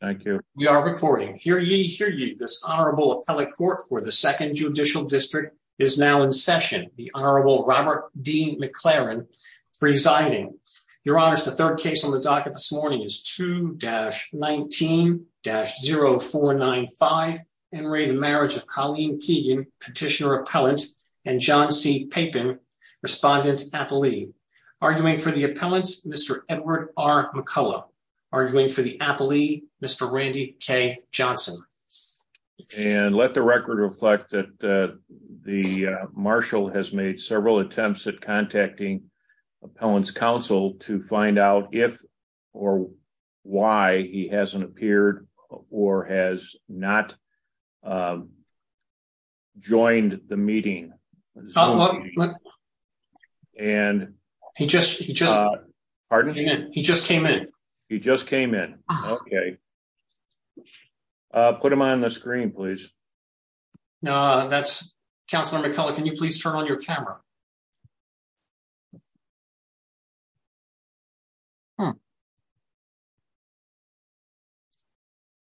Thank you. We are recording. Hear ye, hear ye. This Honorable Appellate Court for the Second Judicial District is now in session. The Honorable Robert D. McLaren presiding. Your Honors, the third case on the docket this morning is 2-19-0495, Enry, the marriage of Colleen Keegan, Petitioner-Appellant, and John C. Papin, Respondent-Appellee. Arguing for the Mr. Randy K. Johnson. And let the record reflect that the Marshall has made several attempts at contacting Appellant's counsel to find out if or why he hasn't appeared or has not joined the court. Put him on the screen, please. Now that's Councillor McCullough. Can you please turn on your camera?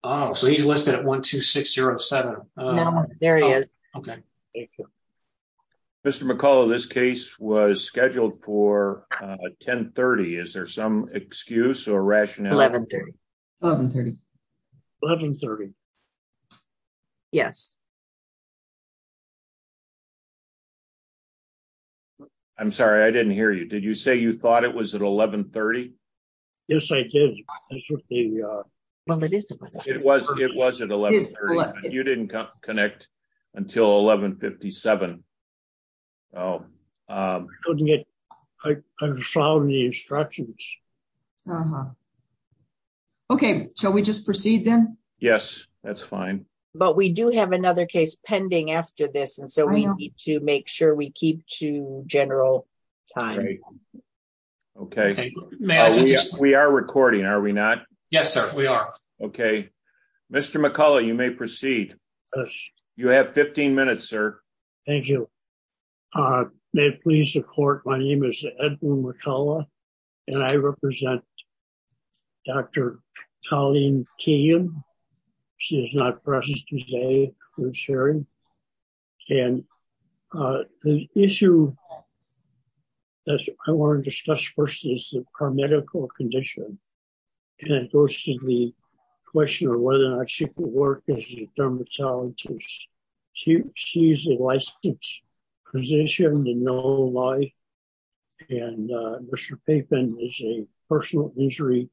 Oh, so he's listed at 12607. There he is. Okay. Mr. McCullough, this case was scheduled for 1030. Is there some excuse or rationale? 1130. 1130. Yes. I'm sorry, I didn't hear you. Did you say you thought it was at 1130? Yes, I did. It was at 1130. You didn't connect until 1157. I found the instructions. Uh-huh. Okay, shall we just proceed then? Yes, that's fine. But we do have another case pending after this, and so we need to make sure we keep to general time. Okay. We are recording, are we not? Yes, sir, we are. Okay. Mr. McCullough, you may proceed. You have 15 minutes, sir. Thank you. May it please the court, my name is Edwin McCullough, and I represent Dr. Colleen Keehan. She is not present today for this hearing. And the issue that I want to discuss first is her medical condition. And it goes to the question of whether or not she could work as a dermatologist. She's a licensed physician to no life, and Mr. Papin is a personal injury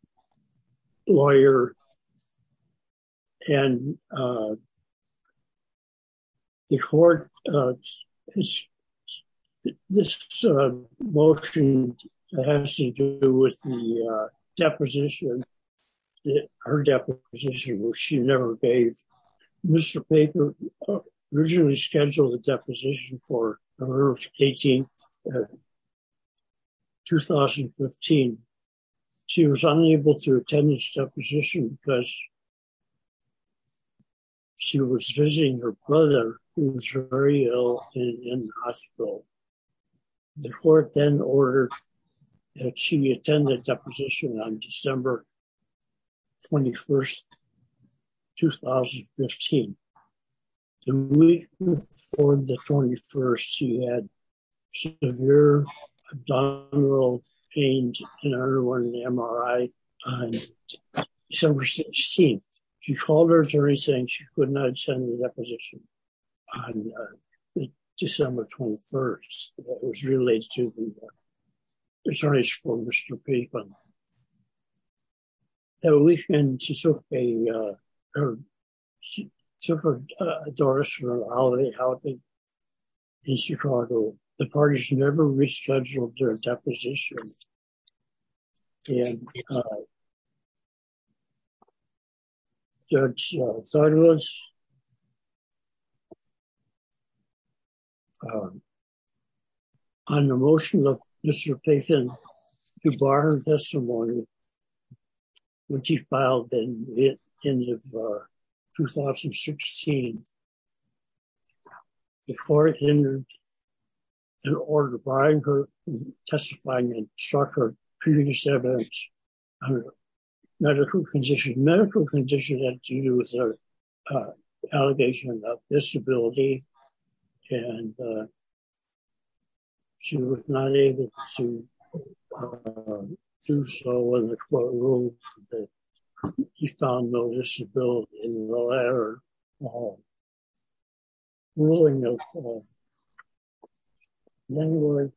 lawyer. And the court, this motion has to do with the deposition, her deposition, which she never gave. Mr. Papin originally scheduled the deposition for November 18th, 2015. She was unable to attend this deposition because she was visiting her brother who was very ill in the hospital. The court then ordered that she attend the deposition on December 21st, 2015. The week before the 21st, she had severe abdominal pain and underwent an MRI on December 16th. She called her attorney saying she could not attend the deposition on December 21st. That was related to the attorneys for Mr. Papin. Now, we've been, she took a, took a dorsal holiday out in Chicago. The parties never rescheduled their deposition. And Judge Sotomayor, on the motion of Mr. Papin to bar her testimony, which he filed in the end of 2016, the court entered an order barring her from testifying and instructing her previous evidence on her medical condition. Medical condition had to do with her allegation of disability. And she was not able to do so in the courtroom. But he found no disability in the letter of ruling of January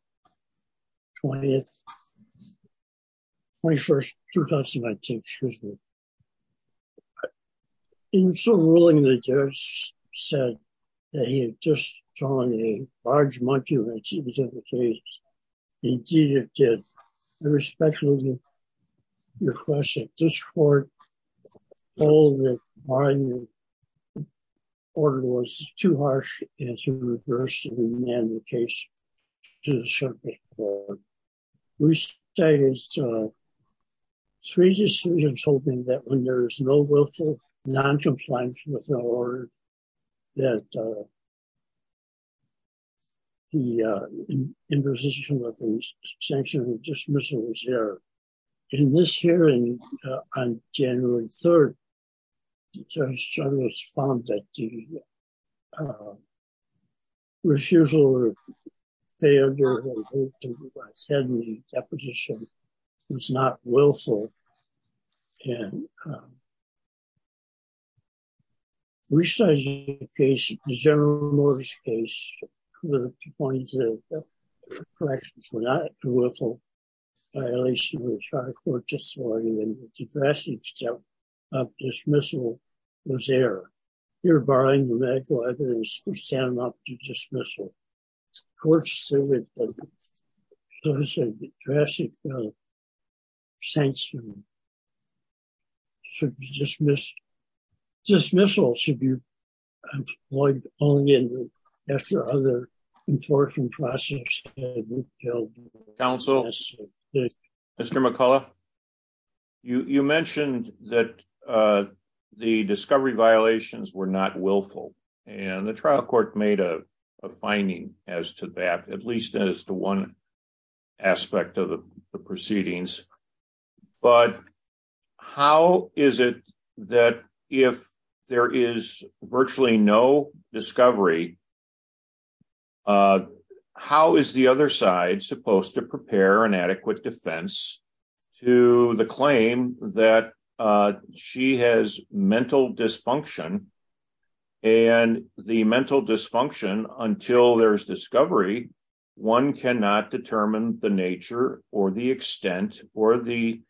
20th, 21st, 2019, excuse me. In some ruling, the judge said that he had just drawn a large monkey when she was in the case. Indeed, it did. I respectfully request that this court hold that barring the order was too harsh and to reverse the remand of the case to the circuit court. We stated three decisions holding that when there is no willful noncompliance with the order, that the imposition of the sanction of dismissal was there. In this hearing on January 3rd, Judge Chavez found that the refusal or failure to attend the resizing of the case, the General Motors case, to the point that the corrections were not a willful violation of the Charter Courts' authority and the drastic step of dismissal was there. Here barring the medical evidence, we stand up to dismissal. Of course, there was a drastic sanction for dismissal should be employed only after other enforcing process. Counsel, Mr. McCullough, you mentioned that the discovery violations were not willful and the trial court made a finding as to that, at least as to one aspect of the proceedings. But how is it that if there is virtually no discovery, how is the other side supposed to prepare an adequate defense to the claim that she has dysfunction and the mental dysfunction until there is discovery, one cannot determine the nature or the extent or the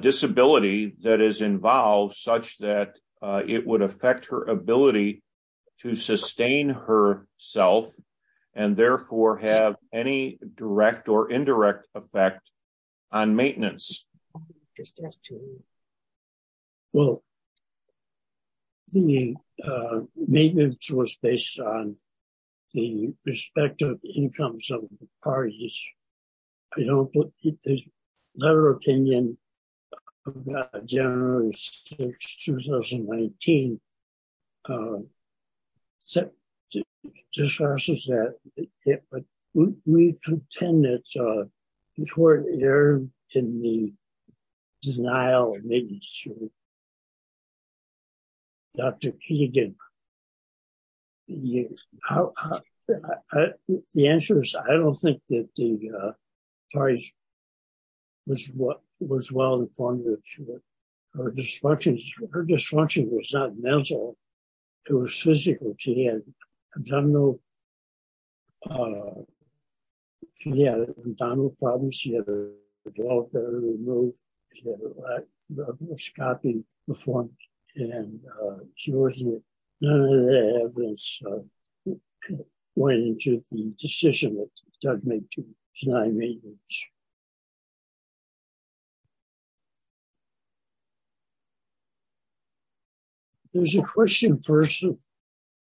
disability that is involved such that it would affect her ability to sustain herself and therefore have any direct or indirect effect on maintenance? Just ask Terry. Well, the maintenance was based on the respective incomes of the parties. I don't believe there's a better opinion of that generally since 2019. We contend that the court erred in the denial of maintenance of Dr. Keegan. The answer is I don't think that the parties was well informed of her dysfunction. Her dysfunction was not mental. It was physical. She had abdominal problems. She had her gallbladder removed. She had a laparoscopy performed. And none of the evidence went into the decision that led to the denial of maintenance. There's a question first of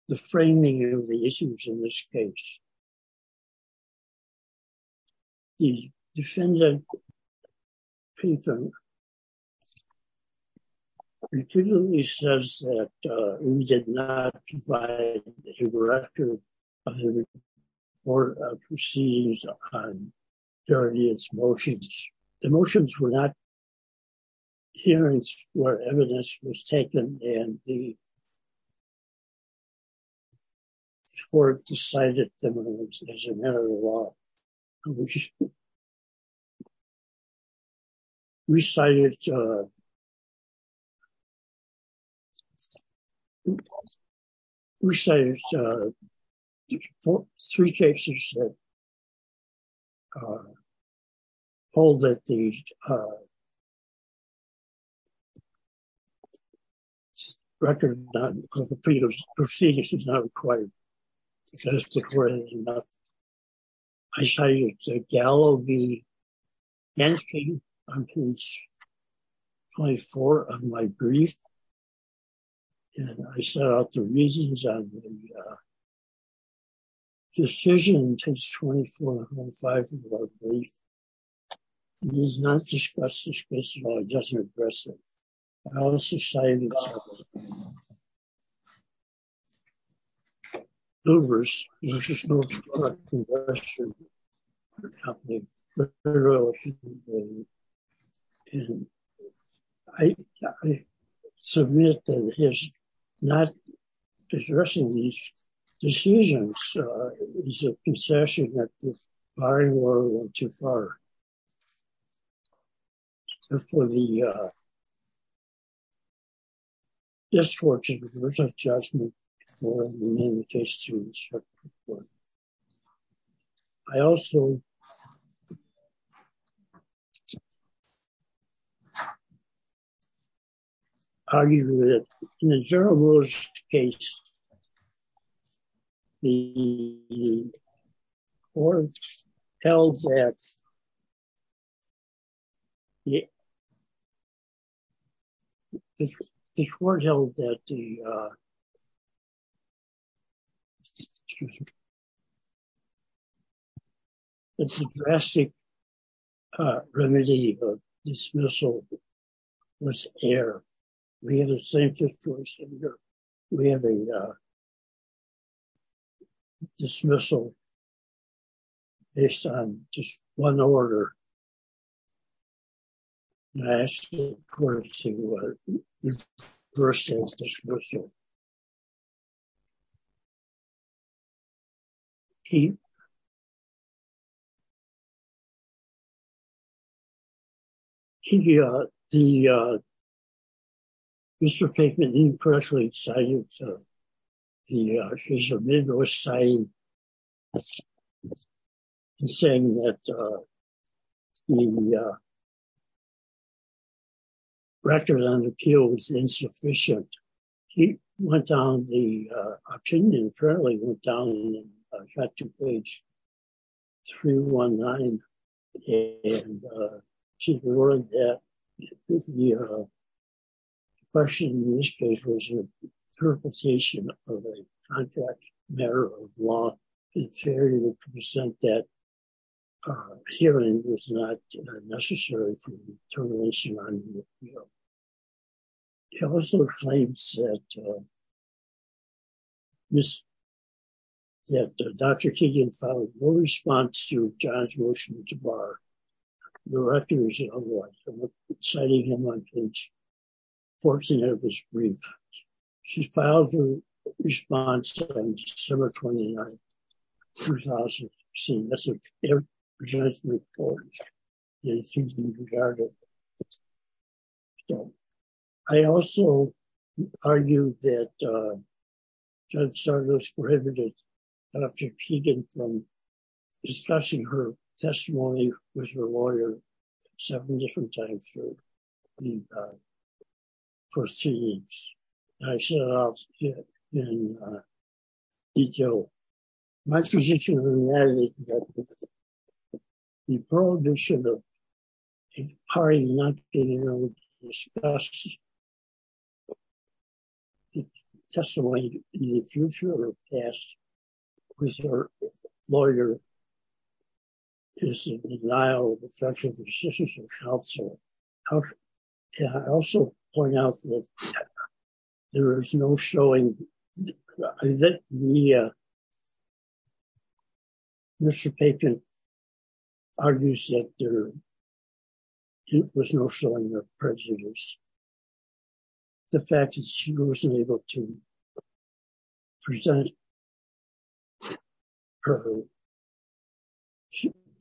the framing of the issues in this case. The defendant, Keegan, repeatedly says that we did not provide the record of the court of proceedings during its motions. The motions were not hearings where evidence was taken and the matter of the law. We cited three cases that hold that the record of the proceedings is not required. I cited Gallo v. Genske on page 24 of my brief. I set out the reasons on the decision on page 24 and 25 of my brief. It does not discuss this case at all. It doesn't address it. I submit that his not addressing these decisions is a concession that the court is seeking to close. I also argued that in the general rules, in this case, the court held that the drastic remedy of dismissal was error. We have the same situation here. We have a dismissal based on just one order. I asked the court to reverse this dismissal. see she uh the uh mr favment label pressuring cited the his amigos saying saying that uh the uh record on appeal was insufficient he went down the uh opinion currently went down and got to page 319 and uh she warned that the uh question in this case was an interpretation of a contract matter of law inferior to present that uh hearing was not necessary for the termination on he also claims that uh this that dr keegan filed no response to john's motion to bar the records citing him on page 14 of his brief she's filed a response on december 29 who's also seen this i also argued that uh judge sargos prohibited dr keegan from discussing her testimony with her my position on that is that the prohibition of a party not being able to discuss the testimony in the future or past with her lawyer is a denial of the counsel i also point out that there is no showing that the uh mr papen argues that there was no showing of prejudice the fact that she wasn't able to present her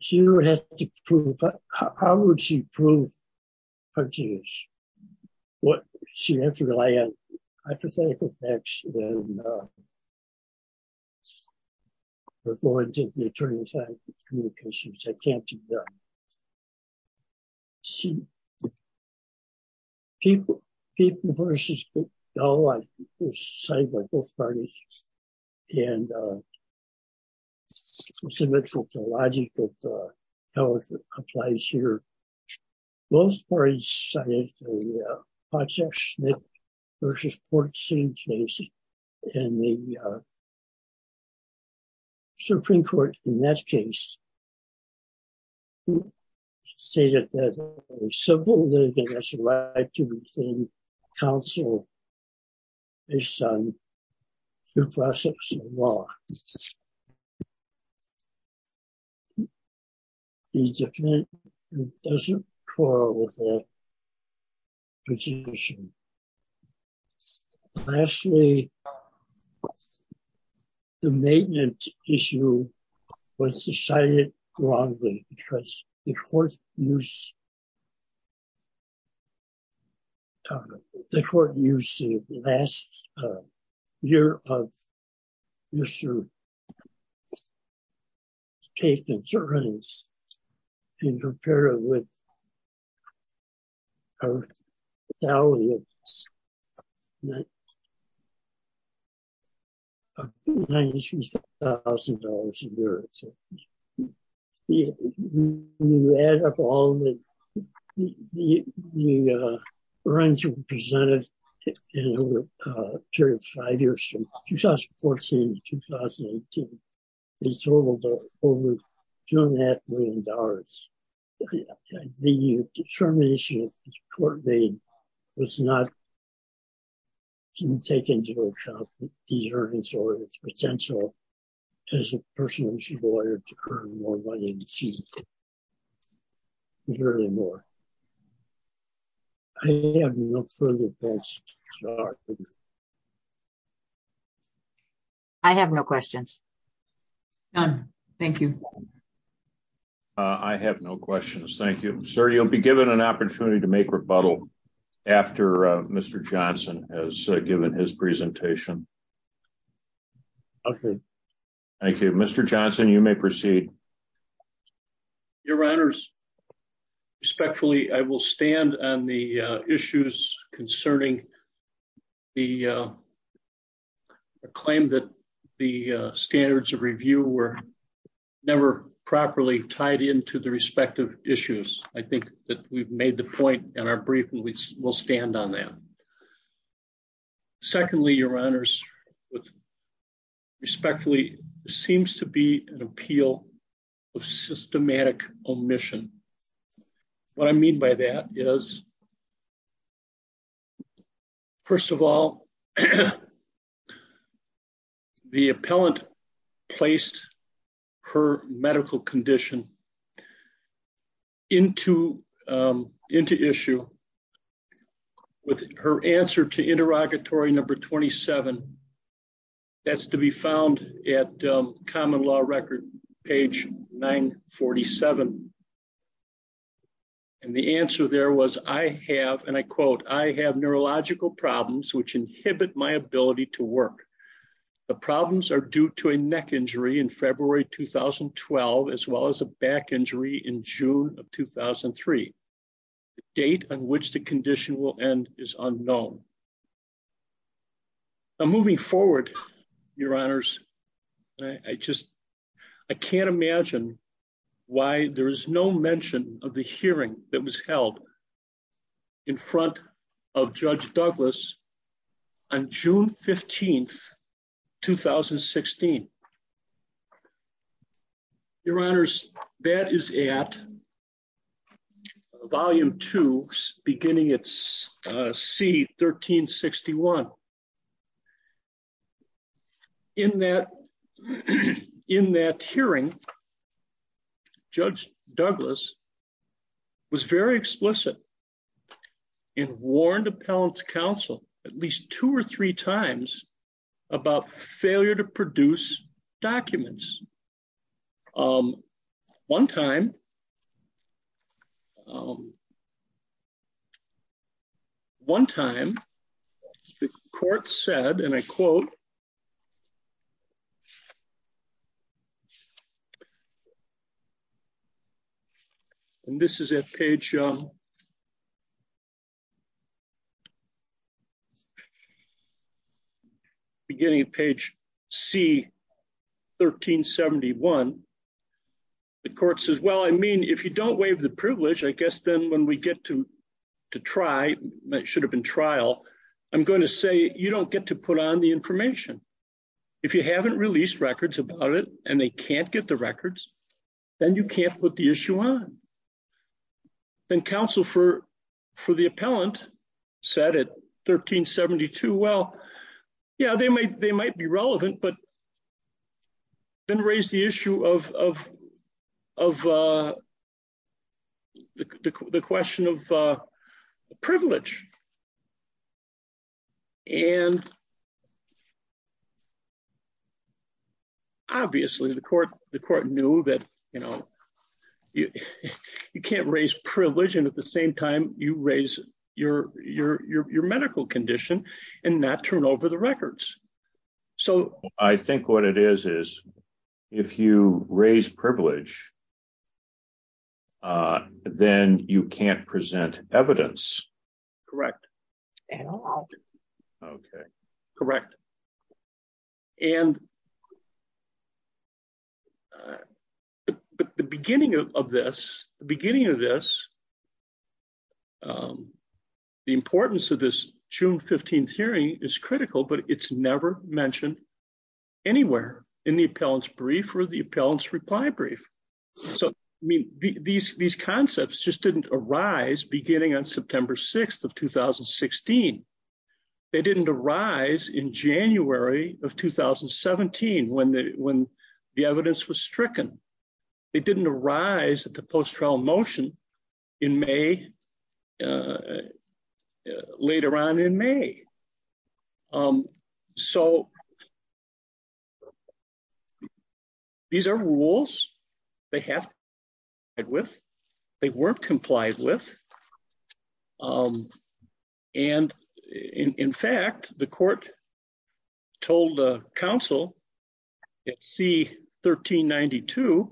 she never has to prove how would she prove her genius what she has to rely on hypothetical facts before they turn inside communications i can't uh see people people versus oh i was cited by both parties and uh so much for the logic of uh how it applies here both parties cited the uh hot section versus port scene cases and the uh supreme court in that case who stated that a civil lawyer has the right to retain counsel based on your process of law the defendant doesn't quarrel with their position lastly what's the maintenance issue was decided wrongly because the court used the court you see the last year of mr take insurance and compare it with our tally of thousand dollars a year when you add up all the the uh runs were presented in a period of five years from 2014 to 2018 they totaled over two and a half million dollars the determination of the court made was not taken into account these earnings or its potential as a personal issue lawyer to see very more i have no further questions i have no questions done thank you i have no questions thank you sir you'll be given an opportunity to make rebuttal after uh mr johnson has given his presentation okay thank you mr johnson you may proceed your honors respectfully i will stand on the uh issues concerning the uh the claim that the uh standards of review were never properly tied into the respective issues i think that we've made the point in our briefing we will stand on them secondly your honors respectfully seems to be an appeal of systematic omission what i mean by that is first of all the appellant placed her medical condition into um into issue with her answer to interrogatory number 27 that's to be found at common law record page 947 and the answer there was i have and i quote i have neurological problems which inhibit my ability to in june of 2003 the date on which the condition will end is unknown i'm moving forward your honors i just i can't imagine why there is no mention of the hearing that was held in front of judge douglas on june 15 2016 your honors that is at volume two beginning its uh c 1361 in that in that hearing judge douglas was very explicit in warned appellant's counsel at least two or three times about failure to produce documents um one time one time the court said and i quote and this is at page um beginning of page c 1371 the court says well i mean if you don't waive the privilege i guess then when we get to to try it should have been trial i'm going to say you don't get to put on the information if you haven't released records about it and they can't get the records then you can't put the issue on then counsel for for the appellant said at 1372 well yeah they might they have been raised the issue of of of uh the the question of uh the privilege and obviously the court the court knew that you know you you can't raise privilege and at the same time you raise your your your medical condition and not turn over the records so i think what it is is if you raise privilege uh then you can't present evidence correct at all okay correct and the beginning of this the beginning of this um the importance of this june 15th hearing is critical but it's never mentioned anywhere in the appellant's brief or the appellant's reply brief so i mean these these concepts just didn't arise beginning on september 6th of 2016 they didn't arise in january of 2017 when when the evidence was stricken it didn't arise at the post-trial motion in may later on in may um so these are rules they have it with they weren't complied with um and in in fact the court told the council at c 1392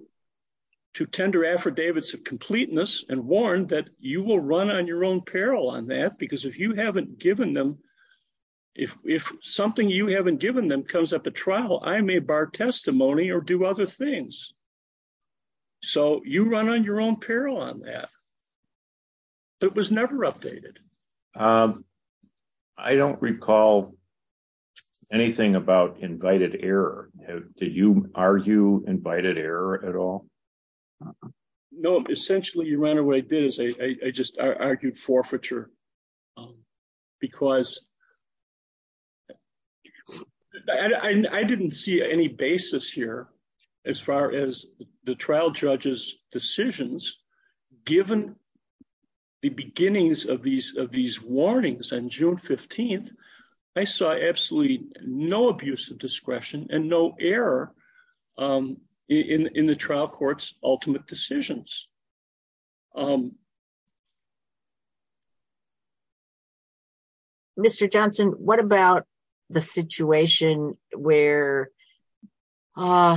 to tender affidavits of completeness and warned that you will run on your own peril on that because if you haven't given them if if something you haven't given them comes up at trial i may bar testimony or do other things so you run on your own peril on that but it was never updated um i don't recall anything about invited error did you argue invited error at all no essentially you ran away did is i i just i argued forfeiture um because i i didn't see any basis here as far as the trial judge's decisions given the beginnings of these of these warnings on june 15th i saw absolutely no abuse of discretion and no error um in in the trial court's ultimate decisions um mr johnson what about the situation where uh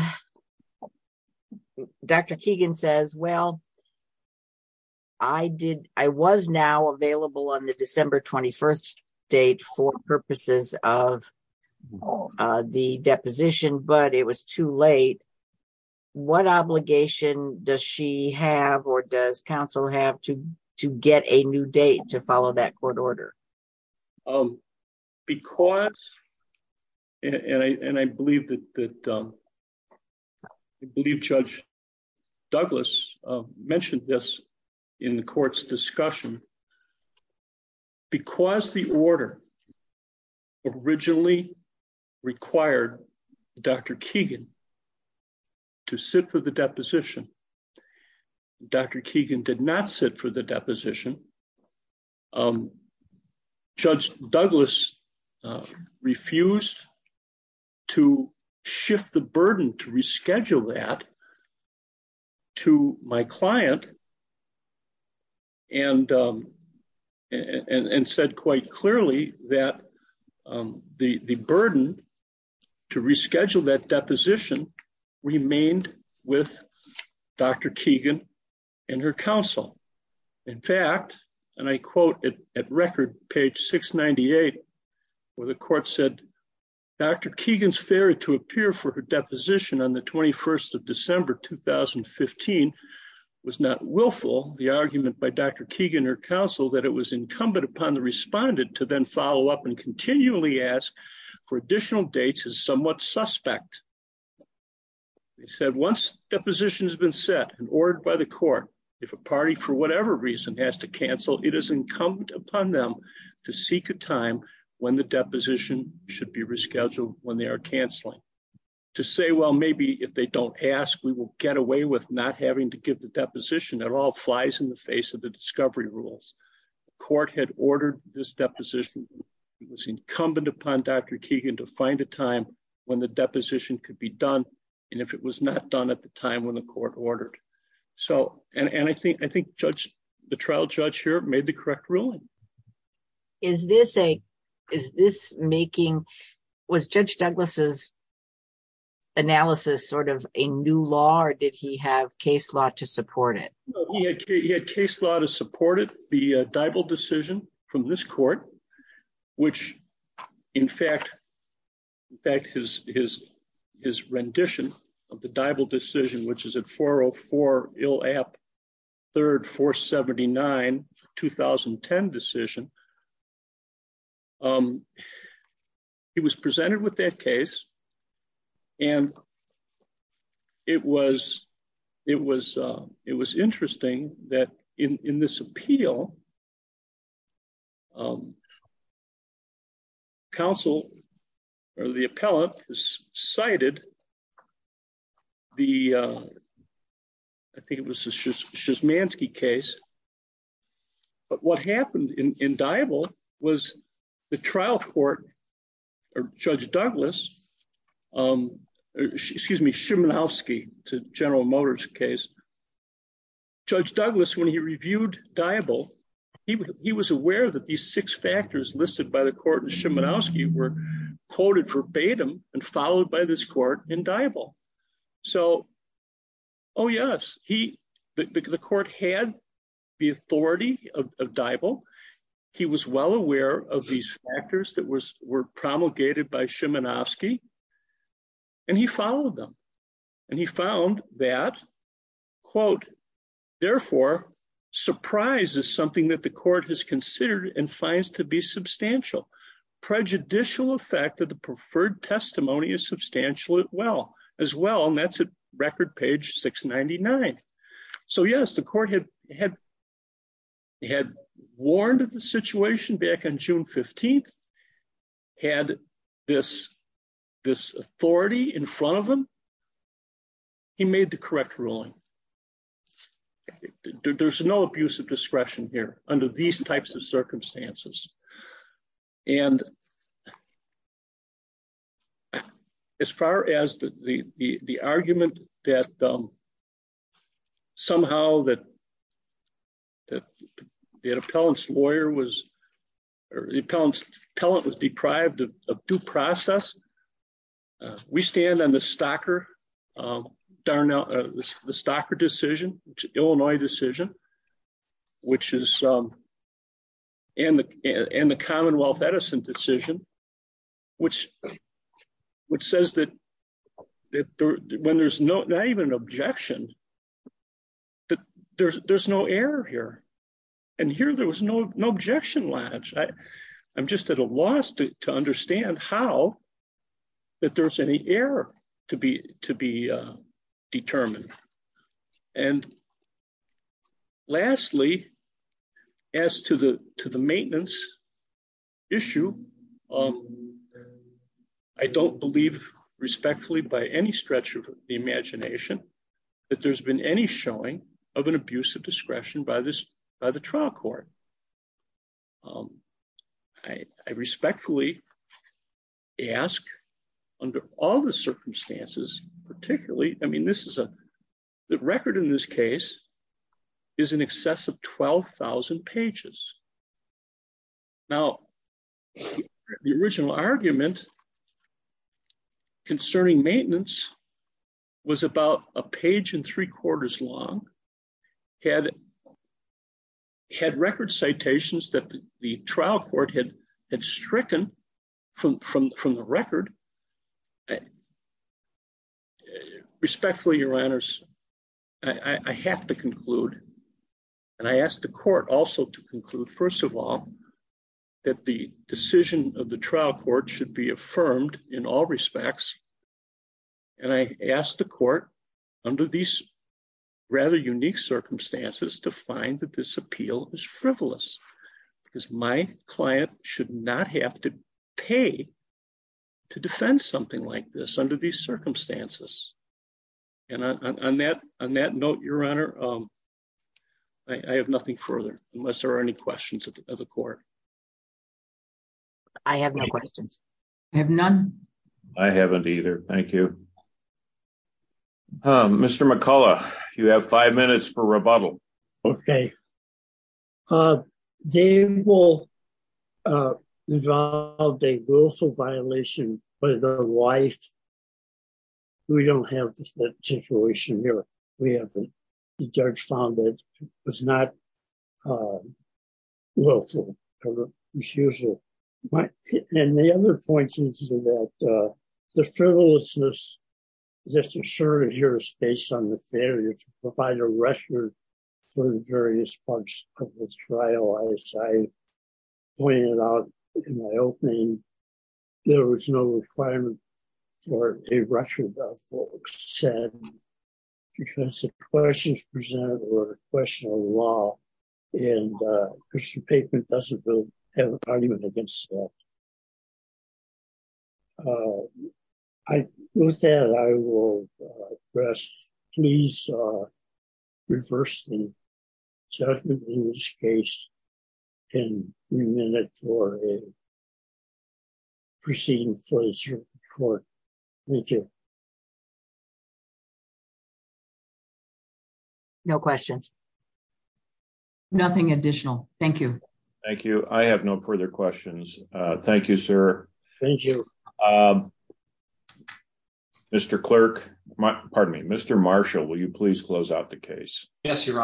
dr keegan says well i did i was now available on the december 21st date for purposes of the deposition but it was too late what obligation does she have or does council have to to get a new date to follow that court order um because and i and i believe that that um i believe judge douglas mentioned this in the court's discussion because the order originally required dr keegan to sit for the deposition dr keegan did not sit for the deposition um judge douglas refused to shift the burden to reschedule that to my client and um and and said quite clearly that um the the burden to reschedule that deposition remained with dr keegan and her counsel in fact and i quote it at record page 698 where the court said dr keegan's theory to appear for her deposition on the 21st of december 2015 was not willful the argument by dr keegan or counsel that it was incumbent upon the respondent to then follow up and continually ask for additional dates is somewhat suspect they said once deposition has been set and ordered by the court if a party for whatever reason has to cancel it is incumbent upon them to seek a time when the deposition should be rescheduled when they are canceling to say well maybe if they don't ask we will get away with not having to give the deposition it all flies in the face of the discovery rules court had ordered this deposition it was incumbent upon dr keegan to find a time when the deposition could be done and if it was not done at the time when the court ordered so and and i think i think judge the trial judge here made the correct ruling is this a is this making was judge douglas's analysis sort of a new law or did he have case law to support it he had case law to support it the diable decision from this court which in fact in fact his his his rendition of the diable decision which is at 404 ill app third 479 2010 decision um he was presented with that case and it was it was uh it was interesting that in in this appeal um counsel or the appellate has cited the uh i think it was a schismansky case but what happened in in diable was the trial court or judge douglas um excuse me schumanowski to general motors case judge douglas when he reviewed diable he he was aware that these six factors listed by the court and schumanowski were quoted verbatim and followed by this court in diable so oh yes he the court had the authority of diable he was well aware of these factors that was were promulgated by schumanowski and he followed them and he found that quote therefore surprise is something that the court has considered and finds to be substantial prejudicial effect of the preferred testimony is substantial as well as well and that's at record page 699 so yes the court had had had warned of the situation back on june 15th had this this authority in front of him he made the correct ruling there's no abuse of discretion here under these types of circumstances and as far as the the the argument that um somehow that that the appellant's lawyer was or the appellant's talent was deprived of due process uh we stand on the stocker um darn out the stocker decision which illinois decision which is um and the and the commonwealth edison decision which which says that that when there's no not even an objection that there's there's no error here and here there was no no objection latch i i'm just at a loss to to understand how that there's any error to be to be uh determined and lastly as to the to the um i don't believe respectfully by any stretch of the imagination that there's been any showing of an abuse of discretion by this by the trial court um i i respectfully ask under all the circumstances particularly i mean this is a the record in this case is in excess of 12 000 pages now the original argument concerning maintenance was about a page and three quarters long had had record citations that the trial court had had stricken from from from the record uh respectfully your honors i i have to conclude and i asked the court also to conclude first of all that the decision of the trial court should be affirmed in all respects and i asked the court under these rather unique circumstances to find that this appeal is frivolous because my client should not have to pay to defend something like this under these circumstances and on that on that note your honor um i i have nothing further unless there are any questions of the court i have no questions i have none i haven't either thank you um mr mccullough you have five minutes for rebuttal okay uh they will uh involved a willful violation by their wife we don't have this situation here we have the the frivolousness that's asserted here is based on the failure to provide a record for the various parts of this trial as i pointed out in my opening there was no requirement for a record of what was said because the questions presented were a question of law and uh christian paper doesn't have an argument against that uh i with that i will address please uh reverse the judgment in this case and remand it for a proceeding for the court thank you you no questions nothing additional thank you thank you i have no further questions uh thank you sir thank you uh mr clerk pardon me mr marshall will you please close out the case yes your honor